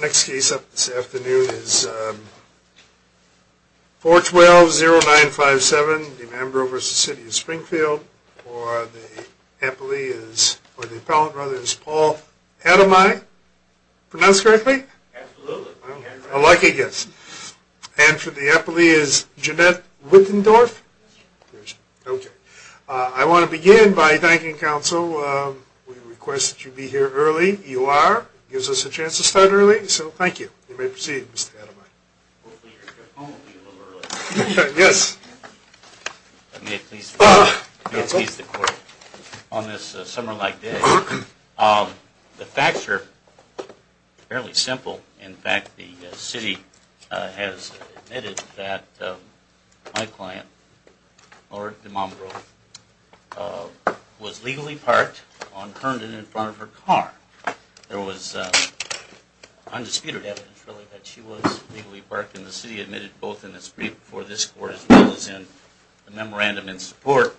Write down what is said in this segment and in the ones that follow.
Next case up this afternoon is 412-0957, DeMambro v. City of Springfield, for the appellee is, or the appellant rather, is Paul Ademeye. Pronounce correctly? Absolutely. A lucky guess. And for the appellee is Jeanette Wittendorf? Yes, sir. Okay. I want to begin by thanking counsel. We request that you be here early. You are. It gives us a chance to start early, so thank you. You may proceed, Mr. Ademeye. Hopefully your home will be a little early. Yes. May it please the court. On this summer-like day, the facts are fairly simple. In fact, the city has admitted that my client, Laura DeMambro, was legally parked on Herndon in front of her car. There was undisputed evidence, really, that she was legally parked, and the city admitted both in its brief before this court as well as in the memorandum in support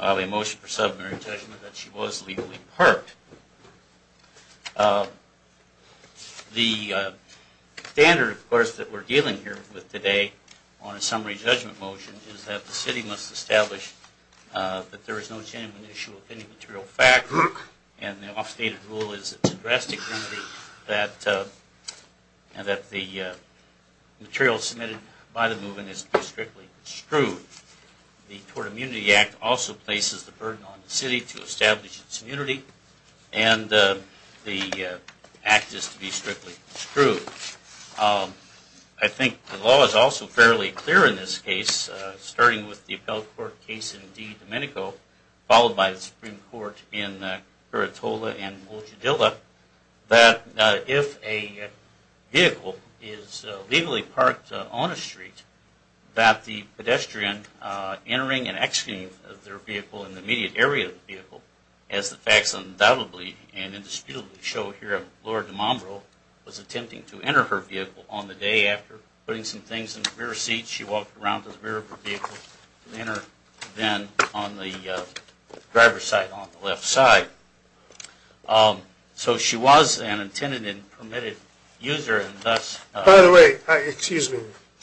of a motion for submarine judgment that she was legally parked. The standard, of course, that we're dealing here with today on a submarine judgment motion is that the city must establish that there is no genuine issue of any material fact, and the off-stated rule is that it's a drastic remedy, and that the material submitted by the movement is to be strictly extruded. The Tort Immunity Act also places the burden on the city to establish its immunity, and the act is to be strictly extruded. I think the law is also fairly clear in this case, starting with the Appellate Court case in D. Domenico, followed by the Supreme Court in Curitola and Olchidilla, that if a vehicle is legally parked on a street, that the pedestrian entering and exiting their vehicle in the immediate area of the vehicle, as the facts undoubtedly and indisputably show here of Laura DeMombro, was attempting to enter her vehicle on the day after, putting some things in the rear seat. She walked around to the rear of her vehicle and entered then on the driver's side on the left side. So she was an intended and permitted user, and thus... By the way, excuse me,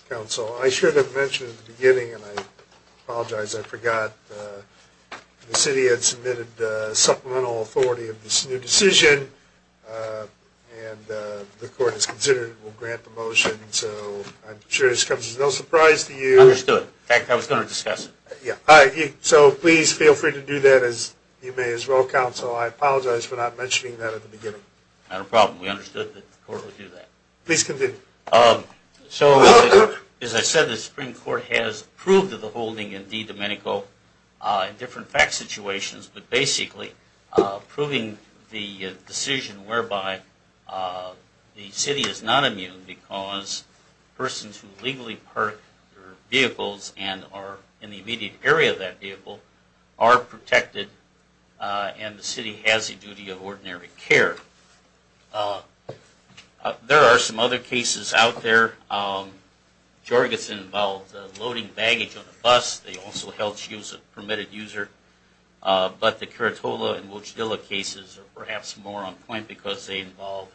counsel, I should have mentioned at the beginning, and I apologize, I forgot, the city had submitted supplemental authority of this new decision, and the court has considered it will grant the motion, so I'm sure this comes as no surprise to you. I understood. In fact, I was going to discuss it. Yeah, so please feel free to do that as you may as well, counsel. I apologize for not mentioning that at the beginning. Not a problem. We understood that the court would do that. Please continue. So, as I said, the Supreme Court has approved of the holding in DiDomenico in different fact situations, but basically approving the decision whereby the city is not immune because persons who legally park their vehicles and are in the immediate area of that vehicle are protected and the city has the duty of ordinary care. There are some other cases out there. Jorgensen involved loading baggage on a bus. They also held she was a permitted user. But the Curitola and Wojdyla cases are perhaps more on point because they involved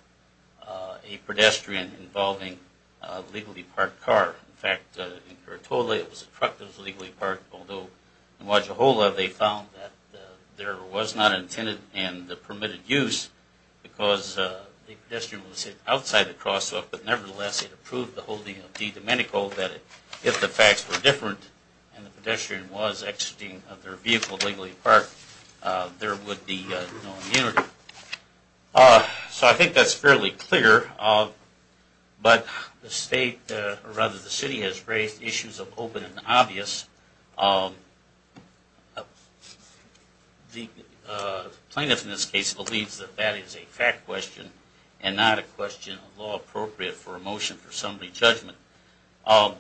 a pedestrian involving a legally parked car. In fact, in Curitola it was a truck that was legally parked, although in Wajahola they found that there was not an intended and permitted use because the pedestrian was outside the crosswalk. But nevertheless, it approved the holding of DiDomenico that if the facts were different and the pedestrian was exiting their vehicle legally parked, there would be no immunity. So I think that's fairly clear. But the state, or rather the city, has raised issues of open and obvious. The plaintiff in this case believes that that is a fact question and not a question law appropriate for a motion for assembly judgment. The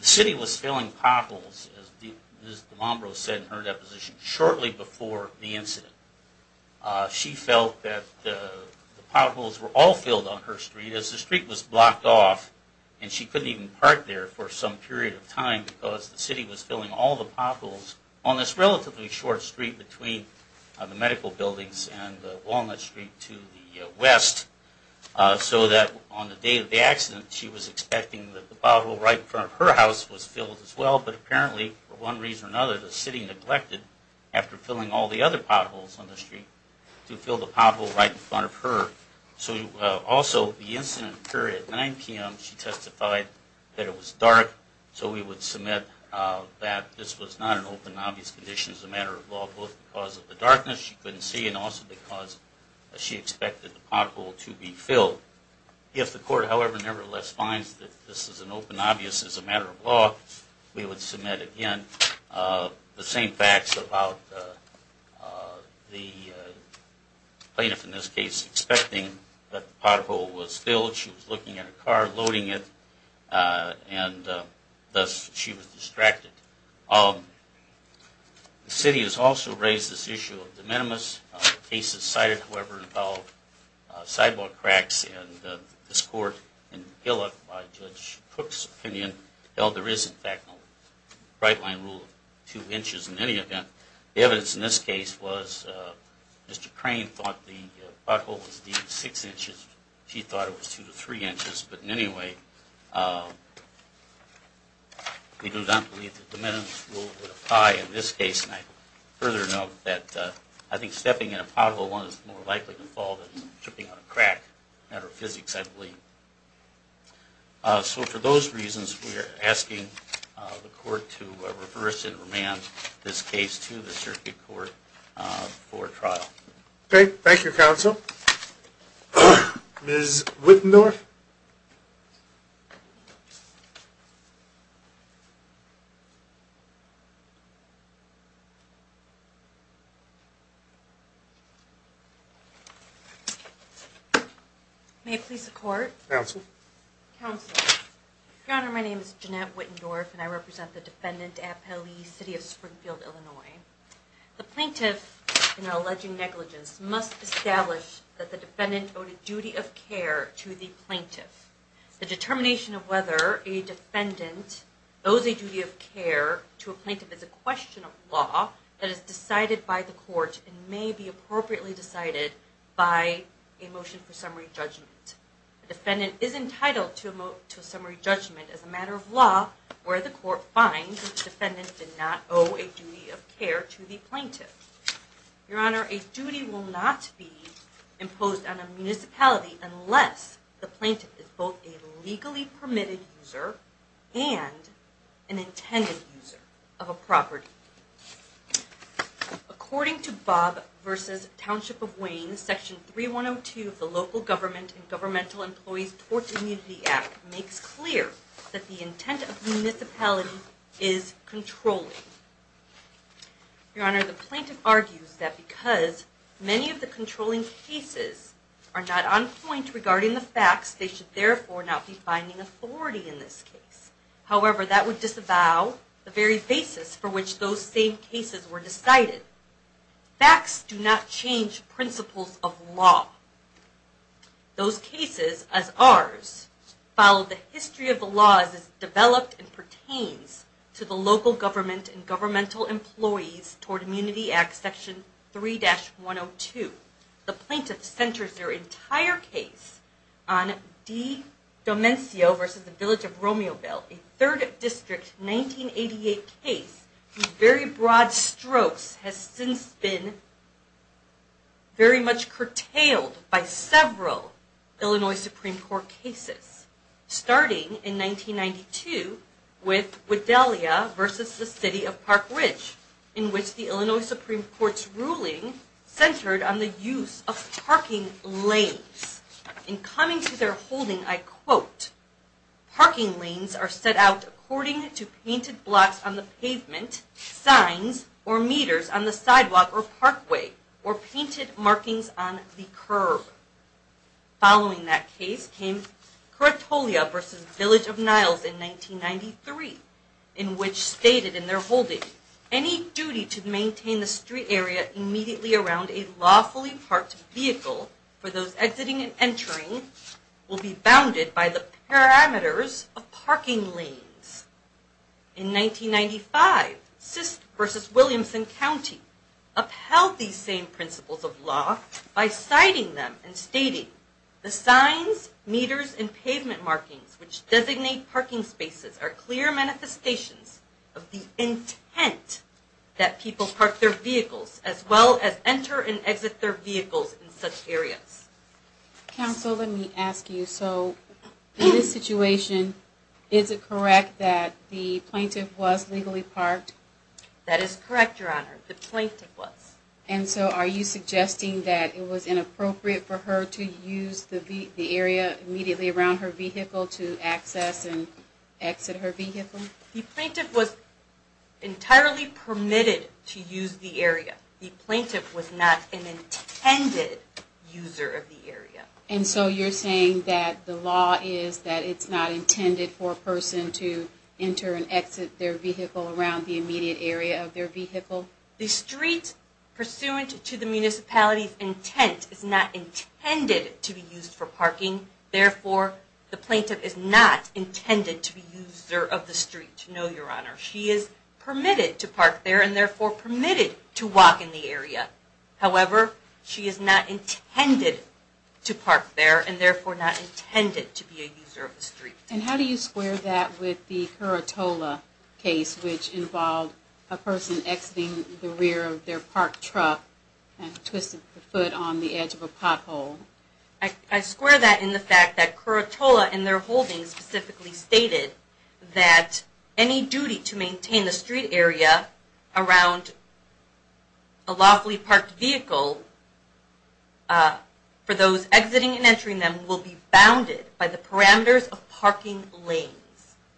city was filling potholes, as Ms. DiMombro said in her deposition, shortly before the incident. She felt that the potholes were all filled on her street as the street was blocked off and she couldn't even park there for some period of time because the city was filling all the potholes on this relatively short street between the medical buildings and Walnut Street to the west so that on the day of the accident she was expecting that the pothole right in front of her house was filled as well. But apparently, for one reason or another, the city neglected, after filling all the other potholes on the street, to fill the pothole right in front of her. Also, the incident occurred at 9 p.m. She testified that it was dark, so we would submit that this was not an open and obvious condition as a matter of law, both because of the darkness she couldn't see and also because she expected the pothole to be filled. If the court, however, nevertheless finds that this is an open and obvious as a matter of law, we would submit again the same facts about the plaintiff, in this case, expecting that the pothole was filled. She was looking at her car, loading it, and thus she was distracted. The city has also raised this issue of de minimis. Cases cited, however, involve sidewalk cracks, and this court in Gillick, by Judge Cook's opinion, held there is, in fact, a right-line rule of 2 inches in any event. The evidence in this case was Mr. Crane thought the pothole was 6 inches. She thought it was 2 to 3 inches. But in any way, we do not believe the de minimis rule would apply in this case. And I further note that I think stepping in a pothole is more likely to fall than tripping on a crack, a matter of physics, I believe. So for those reasons, we are asking the court to reverse and remand this case to the circuit court for trial. Okay. Thank you, counsel. Ms. Wittendorf? May it please the court? Counsel? Counsel, Your Honor, my name is Jeanette Wittendorf, and I represent the defendant at Pelee City of Springfield, Illinois. The plaintiff, in her alleging negligence, must establish that the defendant owed a duty of care to the plaintiff. The determination of whether a defendant owes a duty of care to a plaintiff is a question of law, that is decided by the court and may be appropriately decided by a motion for summary judgment. The defendant is entitled to a summary judgment as a matter of law where the court finds that the defendant did not owe a duty of care to the plaintiff. Your Honor, a duty will not be imposed on a municipality unless the plaintiff is both a legally permitted user and an intended user of a property. According to Bob v. Township of Wayne, Section 3102 of the Local Government and Governmental Employees Torts Immunity Act makes clear that the intent of the municipality is controlling. Your Honor, the plaintiff argues that because many of the controlling cases are not on point regarding the facts, they should therefore not be finding authority in this case. However, that would disavow the very basis for which those same cases were decided. Facts do not change principles of law. Those cases, as ours, follow the history of the law as it is developed and pertains to the Local Government and Governmental Employees Torts Immunity Act, Section 3-102. The plaintiff centers their entire case on Di Domencio v. The Village of Romeoville, a 3rd District 1988 case whose very broad strokes has since been very much curtailed by several Illinois Supreme Court cases, starting in 1992 with Wedelia v. The City of Park Ridge, in which the Illinois Supreme Court's ruling centered on the use of parking lanes. In coming to their holding, I quote, parking lanes are set out according to painted blocks on the pavement, signs or meters on the sidewalk or parkway, or painted markings on the curb. Following that case came Coratolia v. Village of Niles in 1993, in which stated in their holding, any duty to maintain the street area immediately around a lawfully parked vehicle for those exiting and entering will be bounded by the parameters of parking lanes. In 1995, Sist v. Williamson County upheld these same principles of law by citing them and stating, the signs, meters, and pavement markings which designate parking spaces are clear manifestations of the intent that people park their vehicles as well as enter and exit their vehicles in such areas. Counsel, let me ask you, so in this situation, is it correct that the plaintiff was legally parked? That is correct, Your Honor, the plaintiff was. And so are you suggesting that it was inappropriate for her to use the area immediately around her vehicle to access and exit her vehicle? The plaintiff was entirely permitted to use the area. The plaintiff was not an intended user of the area. And so you're saying that the law is that it's not intended for a person to enter and exit their vehicle around the immediate area of their vehicle? The street pursuant to the municipality's intent is not intended to be used for parking. Therefore, the plaintiff is not intended to be a user of the street, no, Your Honor. She is permitted to park there and therefore permitted to walk in the area. However, she is not intended to park there and therefore not intended to be a user of the street. And how do you square that with the Curatola case, which involved a person exiting the rear of their parked truck and twisted the foot on the edge of a pothole? I square that in the fact that Curatola in their holdings specifically stated that any duty to maintain the street area around a lawfully parked vehicle for those exiting and entering them will be bounded by the parameters of parking lanes.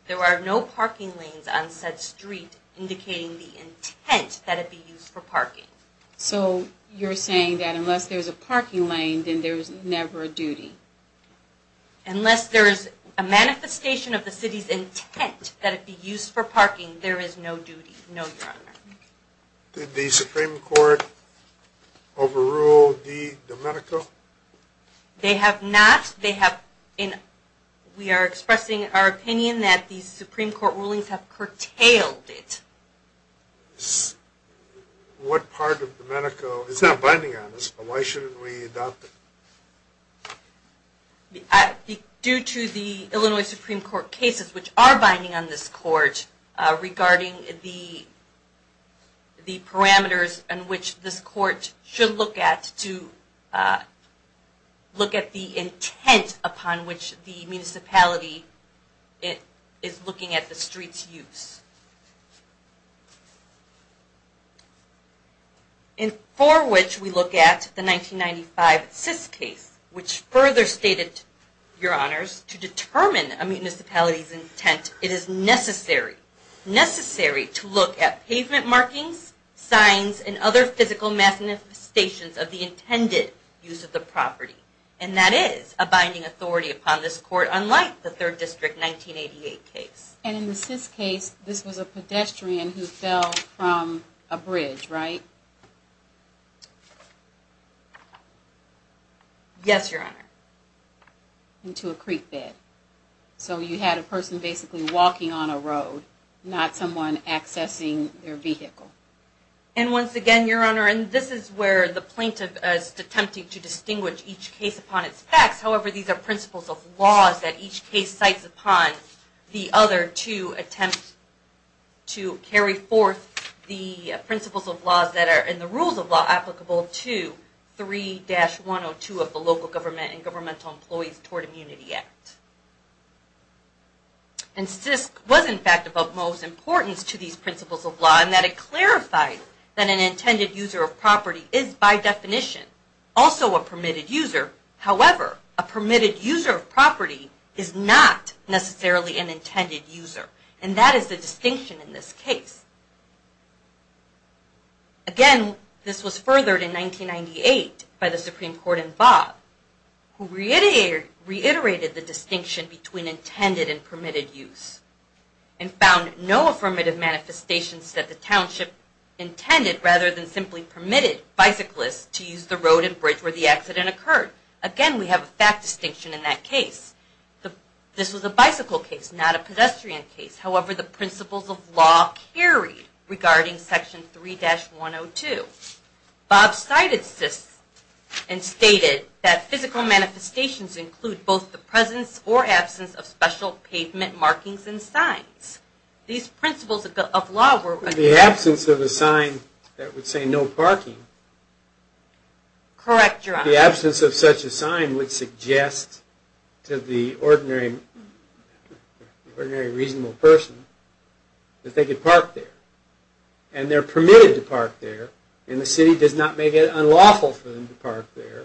There are no parking lanes on said street indicating the intent that it be used for parking. So you're saying that unless there's a parking lane, then there's never a duty? Unless there is a manifestation of the city's intent that it be used for parking, there is no duty, no, Your Honor. Did the Supreme Court overrule the Domenico? They have not. We are expressing our opinion that the Supreme Court rulings have curtailed it. What part of Domenico is not binding on this, but why shouldn't we adopt it? Due to the Illinois Supreme Court cases which are binding on this court regarding the parameters on which this court should look at to look at the intent upon which the municipality is looking at the street's use. For which we look at the 1995 CIS case, which further stated, Your Honors, to determine a municipality's intent, it is necessary to look at pavement markings, signs, and other physical manifestations of the intended use of the property. And that is a binding authority upon this court, unlike the 3rd District 1988 case. And in the CIS case, this was a pedestrian who fell from a bridge, right? Yes, Your Honor. Into a creek bed. So you had a person basically walking on a road, not someone accessing their vehicle. And once again, Your Honor, this is where the plaintiff is attempting to distinguish each case upon its facts. However, these are principles of law that each case cites upon the other to attempt to carry forth the principles of law that are in the rules of law applicable to 3-102 of the Local Government and Governmental Employees Toward Immunity Act. And CIS was in fact of utmost importance to these principles of law in that it clarified that an intended user of property is by definition also a permitted user. However, a permitted user of property is not necessarily an intended user. And that is the distinction in this case. Again, this was furthered in 1998 by the Supreme Court in Bob, who reiterated the distinction between intended and permitted use. And found no affirmative manifestations that the township intended rather than simply permitted bicyclists to use the road and bridge where the accident occurred. Again, we have a fact distinction in that case. This was a bicycle case, not a pedestrian case. However, the principles of law carried regarding Section 3-102. Bob cited CIS and stated that physical manifestations include both the presence or absence of special pavement markings and signs. These principles of law were… The absence of a sign that would say no parking. Correct, Your Honor. The absence of such a sign would suggest to the ordinary reasonable person that they could park there. And they're permitted to park there. And the city does not make it unlawful for them to park there.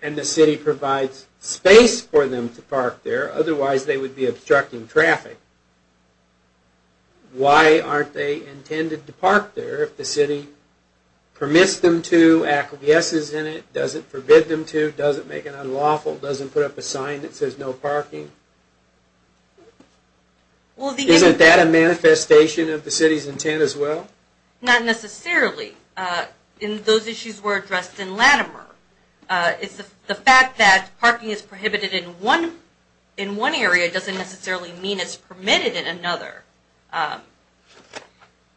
And the city provides space for them to park there. Otherwise, they would be obstructing traffic. Why aren't they intended to park there if the city permits them to, acquiesces in it, doesn't forbid them to, doesn't make it unlawful, doesn't put up a sign that says no parking? Isn't that a manifestation of the city's intent as well? Not necessarily. Those issues were addressed in Latimer. The fact that parking is prohibited in one area doesn't necessarily mean it's permitted in another. So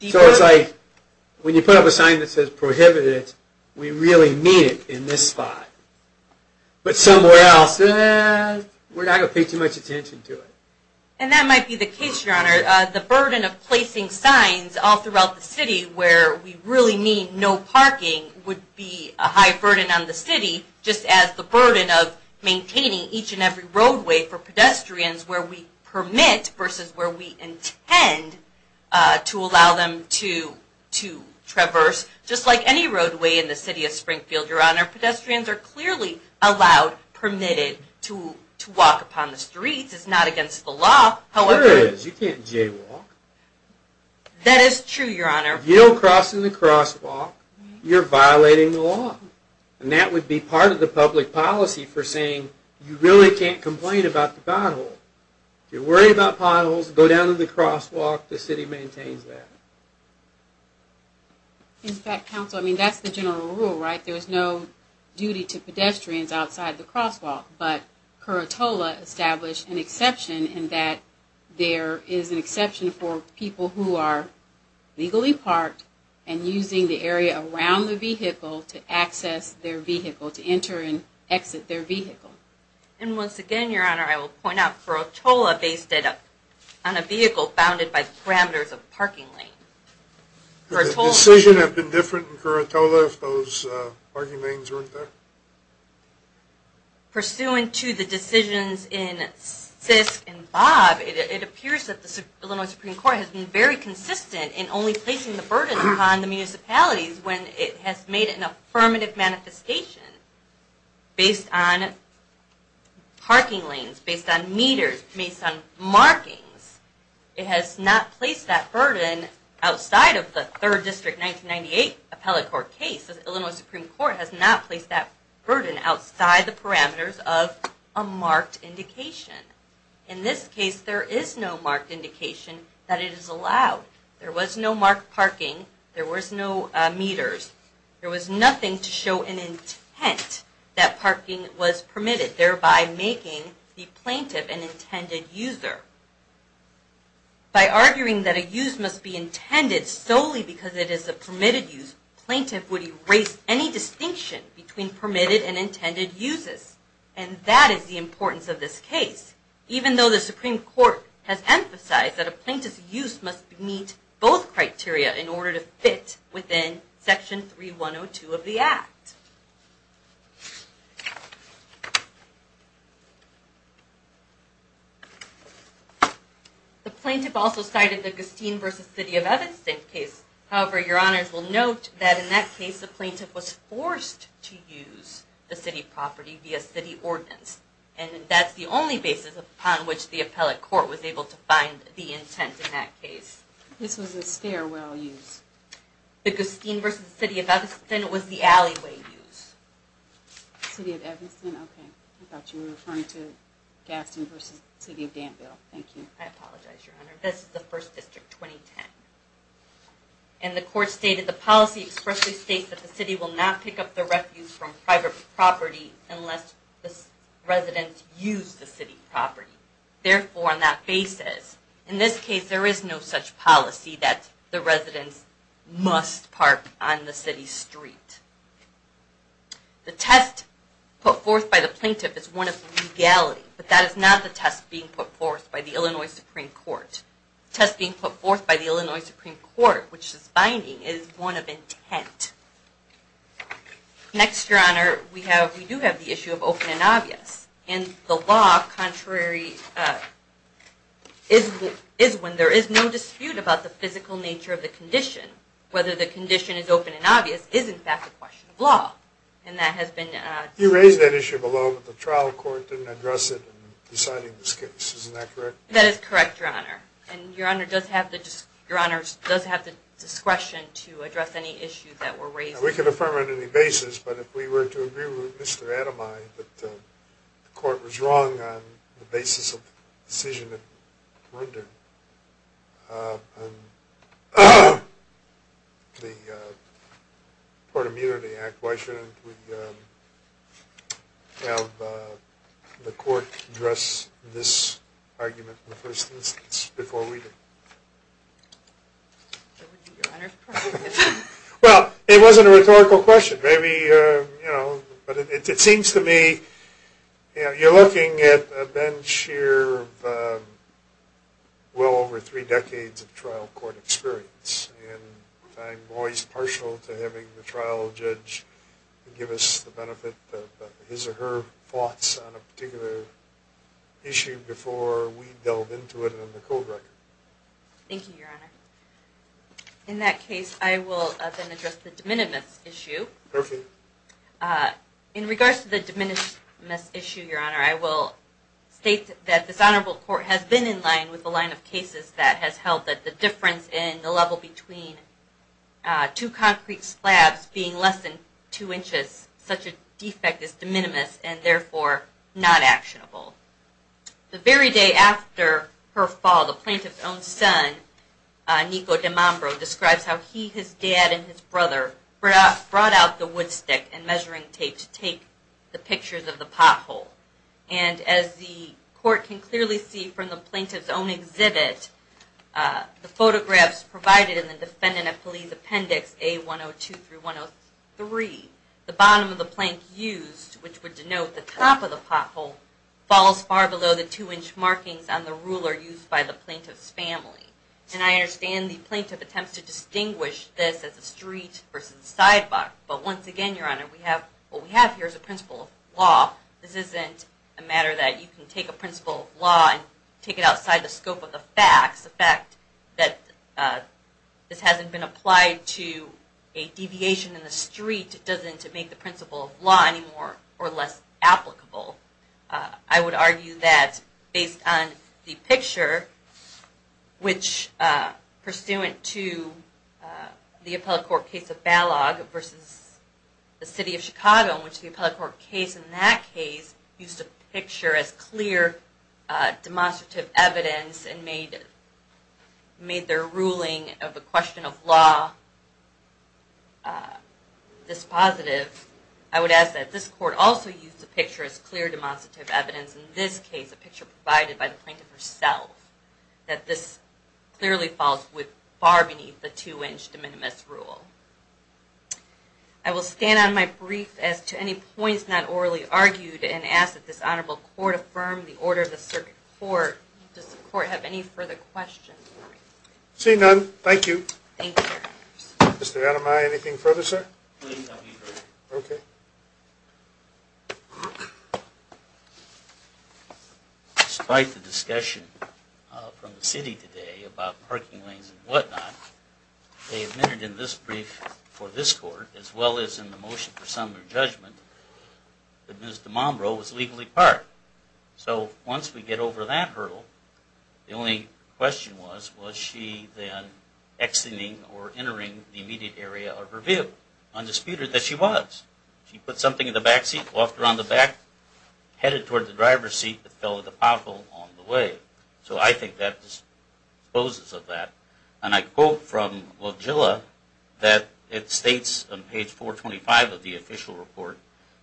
it's like, when you put up a sign that says prohibited, we really mean it in this spot. But somewhere else, we're not going to pay too much attention to it. The burden of placing signs all throughout the city where we really mean no parking would be a high burden on the city, just as the burden of maintaining each and every roadway for pedestrians where we permit versus where we intend to allow them to traverse. Just like any roadway in the city of Springfield, Your Honor, pedestrians are clearly allowed, permitted to walk upon the streets. It's not against the law. Sure it is, you can't jaywalk. That is true, Your Honor. If you don't cross in the crosswalk, you're violating the law. And that would be part of the public policy for saying, you really can't complain about the pothole. If you're worried about potholes, go down to the crosswalk, the city maintains that. In fact, counsel, I mean, that's the general rule, right? There's no duty to pedestrians outside the crosswalk. But Curatola established an exception in that there is an exception for people who are legally parked and using the area around the vehicle to access their vehicle, to enter and exit their vehicle. And once again, Your Honor, I will point out, Curatola based it on a vehicle bounded by parameters of parking lane. Would the decision have been different in Curatola if those parking lanes weren't there? Pursuant to the decisions in Sisk and Bob, it appears that the Illinois Supreme Court has been very consistent in only placing the burden upon the municipalities when it has made an affirmative manifestation based on parking lanes, based on meters, based on markings. It has not placed that burden outside of the Third District 1998 appellate court case. The Illinois Supreme Court has not placed that burden outside the parameters of a marked indication. In this case, there is no marked indication that it is allowed. There was no marked parking. There was no meters. There was nothing to show an intent that parking was permitted, thereby making the plaintiff an intended user. By arguing that a use must be intended solely because it is a permitted use, plaintiff would erase any distinction between permitted and intended uses. And that is the importance of this case. Even though the Supreme Court has emphasized that a plaintiff's use must meet both criteria in order to fit within Section 3102 of the Act. The plaintiff also cited the Gustine v. City of Evanston case. However, Your Honors will note that in that case the plaintiff was forced to use the city property via city ordinance. And that's the only basis upon which the appellate court was able to find the intent in that case. This was a stairwell use. The Gustine v. City of Evanston was the alleyway use. City of Evanston? Okay. I thought you were referring to Gustine v. City of Danville. Thank you. I apologize, Your Honor. This is the 1st District, 2010. And the court stated, The policy expressly states that the city will not pick up the refuse from private property unless the residents use the city property. Therefore, on that basis, in this case, there is no such policy that the residents must park on the city street. The test put forth by the plaintiff is one of legality. But that is not the test being put forth by the Illinois Supreme Court. The test being put forth by the Illinois Supreme Court, which is binding, is one of intent. Next, Your Honor, we do have the issue of open and obvious. And the law contrary is when there is no dispute about the physical nature of the condition. Whether the condition is open and obvious is, in fact, a question of law. And that has been… You raised that issue below, but the trial court didn't address it in deciding this case. Isn't that correct? That is correct, Your Honor. And Your Honor does have the discretion to address any issues that were raised. We can affirm on any basis, but if we were to agree with Mr. Ademaye that the court was wrong on the basis of the decision of Runder, and the Port Immunity Act, why shouldn't we have the court address this argument in the first instance before we do? Your Honor… Well, it wasn't a rhetorical question. But it seems to me you're looking at a bench here of well over three decades of trial court experience. And I'm always partial to having the trial judge give us the benefit of his or her thoughts on a particular issue before we delve into it in the cold record. Thank you, Your Honor. In that case, I will then address the de minimis issue. Perfect. In regards to the de minimis issue, Your Honor, I will state that this honorable court has been in line with the line of cases that has held that the difference in the level between two concrete slabs being less than two inches, such a defect is de minimis and therefore not actionable. The very day after her fall, the plaintiff's own son, Nico de Mambro, describes how he, his dad, and his brother brought out the wood stick and measuring tape to take the pictures of the pothole. And as the court can clearly see from the plaintiff's own exhibit, the photographs provided in the Defendant of Police Appendix A102-103, the bottom of the plank used, which would denote the top of the pothole, falls far below the two-inch markings on the ruler used by the plaintiff's family. And I understand the plaintiff attempts to distinguish this as a street versus a sidewalk. But once again, Your Honor, what we have here is a principle of law. This isn't a matter that you can take a principle of law and take it outside the scope of the facts. The fact that this hasn't been applied to a deviation in the street doesn't make the principle of law any more or less applicable. I would argue that based on the picture, which pursuant to the appellate court case of Balog versus the City of Chicago, in which the appellate court case in that case used a picture as clear demonstrative evidence and made their ruling of the question of law this positive, I would ask that this court also use the picture as clear demonstrative evidence, in this case a picture provided by the plaintiff herself, that this clearly falls far beneath the two-inch de minimis rule. I will stand on my brief as to any points not orally argued and ask that this honorable court affirm the order of the circuit court. Does the court have any further questions? Seeing none, thank you. Thank you, Your Honor. Mr. Ademaye, anything further, sir? Please, I'll be brief. Okay. Despite the discussion from the city today about parking lanes and whatnot, they admitted in this brief for this court, as well as in the motion for summary judgment, that Ms. DeMombro was legally parked. So once we get over that hurdle, the only question was, was she then exiting or entering the immediate area of her vehicle? Undisputed that she was. She put something in the back seat, walked around the back, headed toward the driver's seat, but fell at the pothole on the way. So I think that disposes of that. And I quote from Lojilla that it states on page 425 of the official report,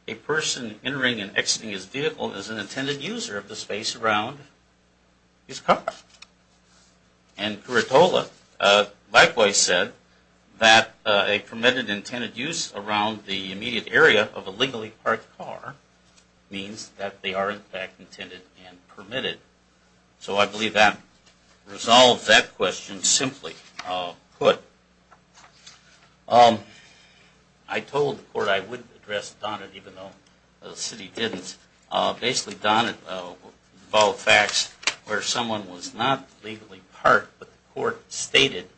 a person entering and exiting his vehicle is an intended user of the space around his car. And Curitola likewise said that a permitted intended use around the immediate area of a legally parked car means that they are, in fact, intended and permitted. So I believe that resolves that question simply put. I told the court I wouldn't address Donnett even though the city didn't. Basically, Donnett followed facts where someone was not legally parked, but the court stated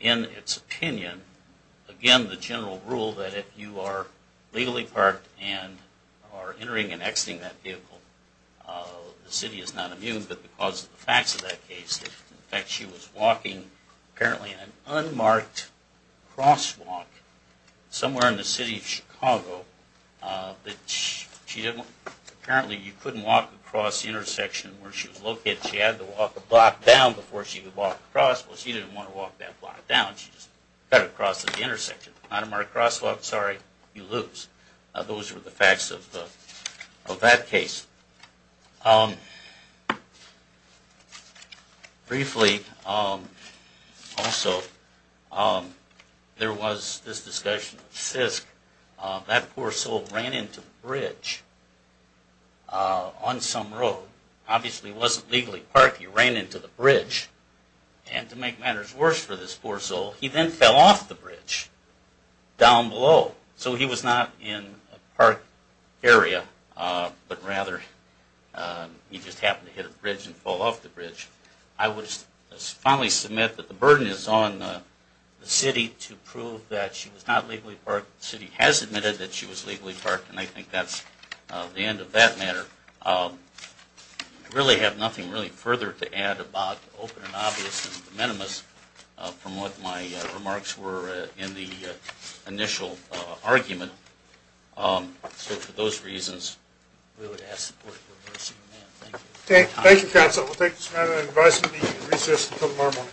in its opinion, again, the general rule that if you are legally parked and are entering and exiting that vehicle, the city is not immune, but because of the facts of that case, in fact, she was walking apparently in an unmarked crosswalk somewhere in the city of Chicago, but apparently you couldn't walk across the intersection where she was located. She had to walk a block down before she could walk across. Well, she didn't want to walk that block down. She just got across at the intersection. Unmarked crosswalk, sorry, you lose. Those were the facts of that case. Briefly, also, there was this discussion of CISC. That poor soul ran into the bridge on some road. Obviously, he wasn't legally parked. He ran into the bridge, and to make matters worse for this poor soul, he then fell off the bridge down below. So he was not in a parked area, but rather he just happened to hit a bridge and fall off the bridge. I would finally submit that the burden is on the city to prove that she was not legally parked. The city has admitted that she was legally parked, and I think that's the end of that matter. I really have nothing really further to add about, open and obvious and de minimis, from what my remarks were in the initial argument. So for those reasons, we would ask for your mercy. Thank you, counsel. We'll take this matter in an advisory meeting at recess until tomorrow morning.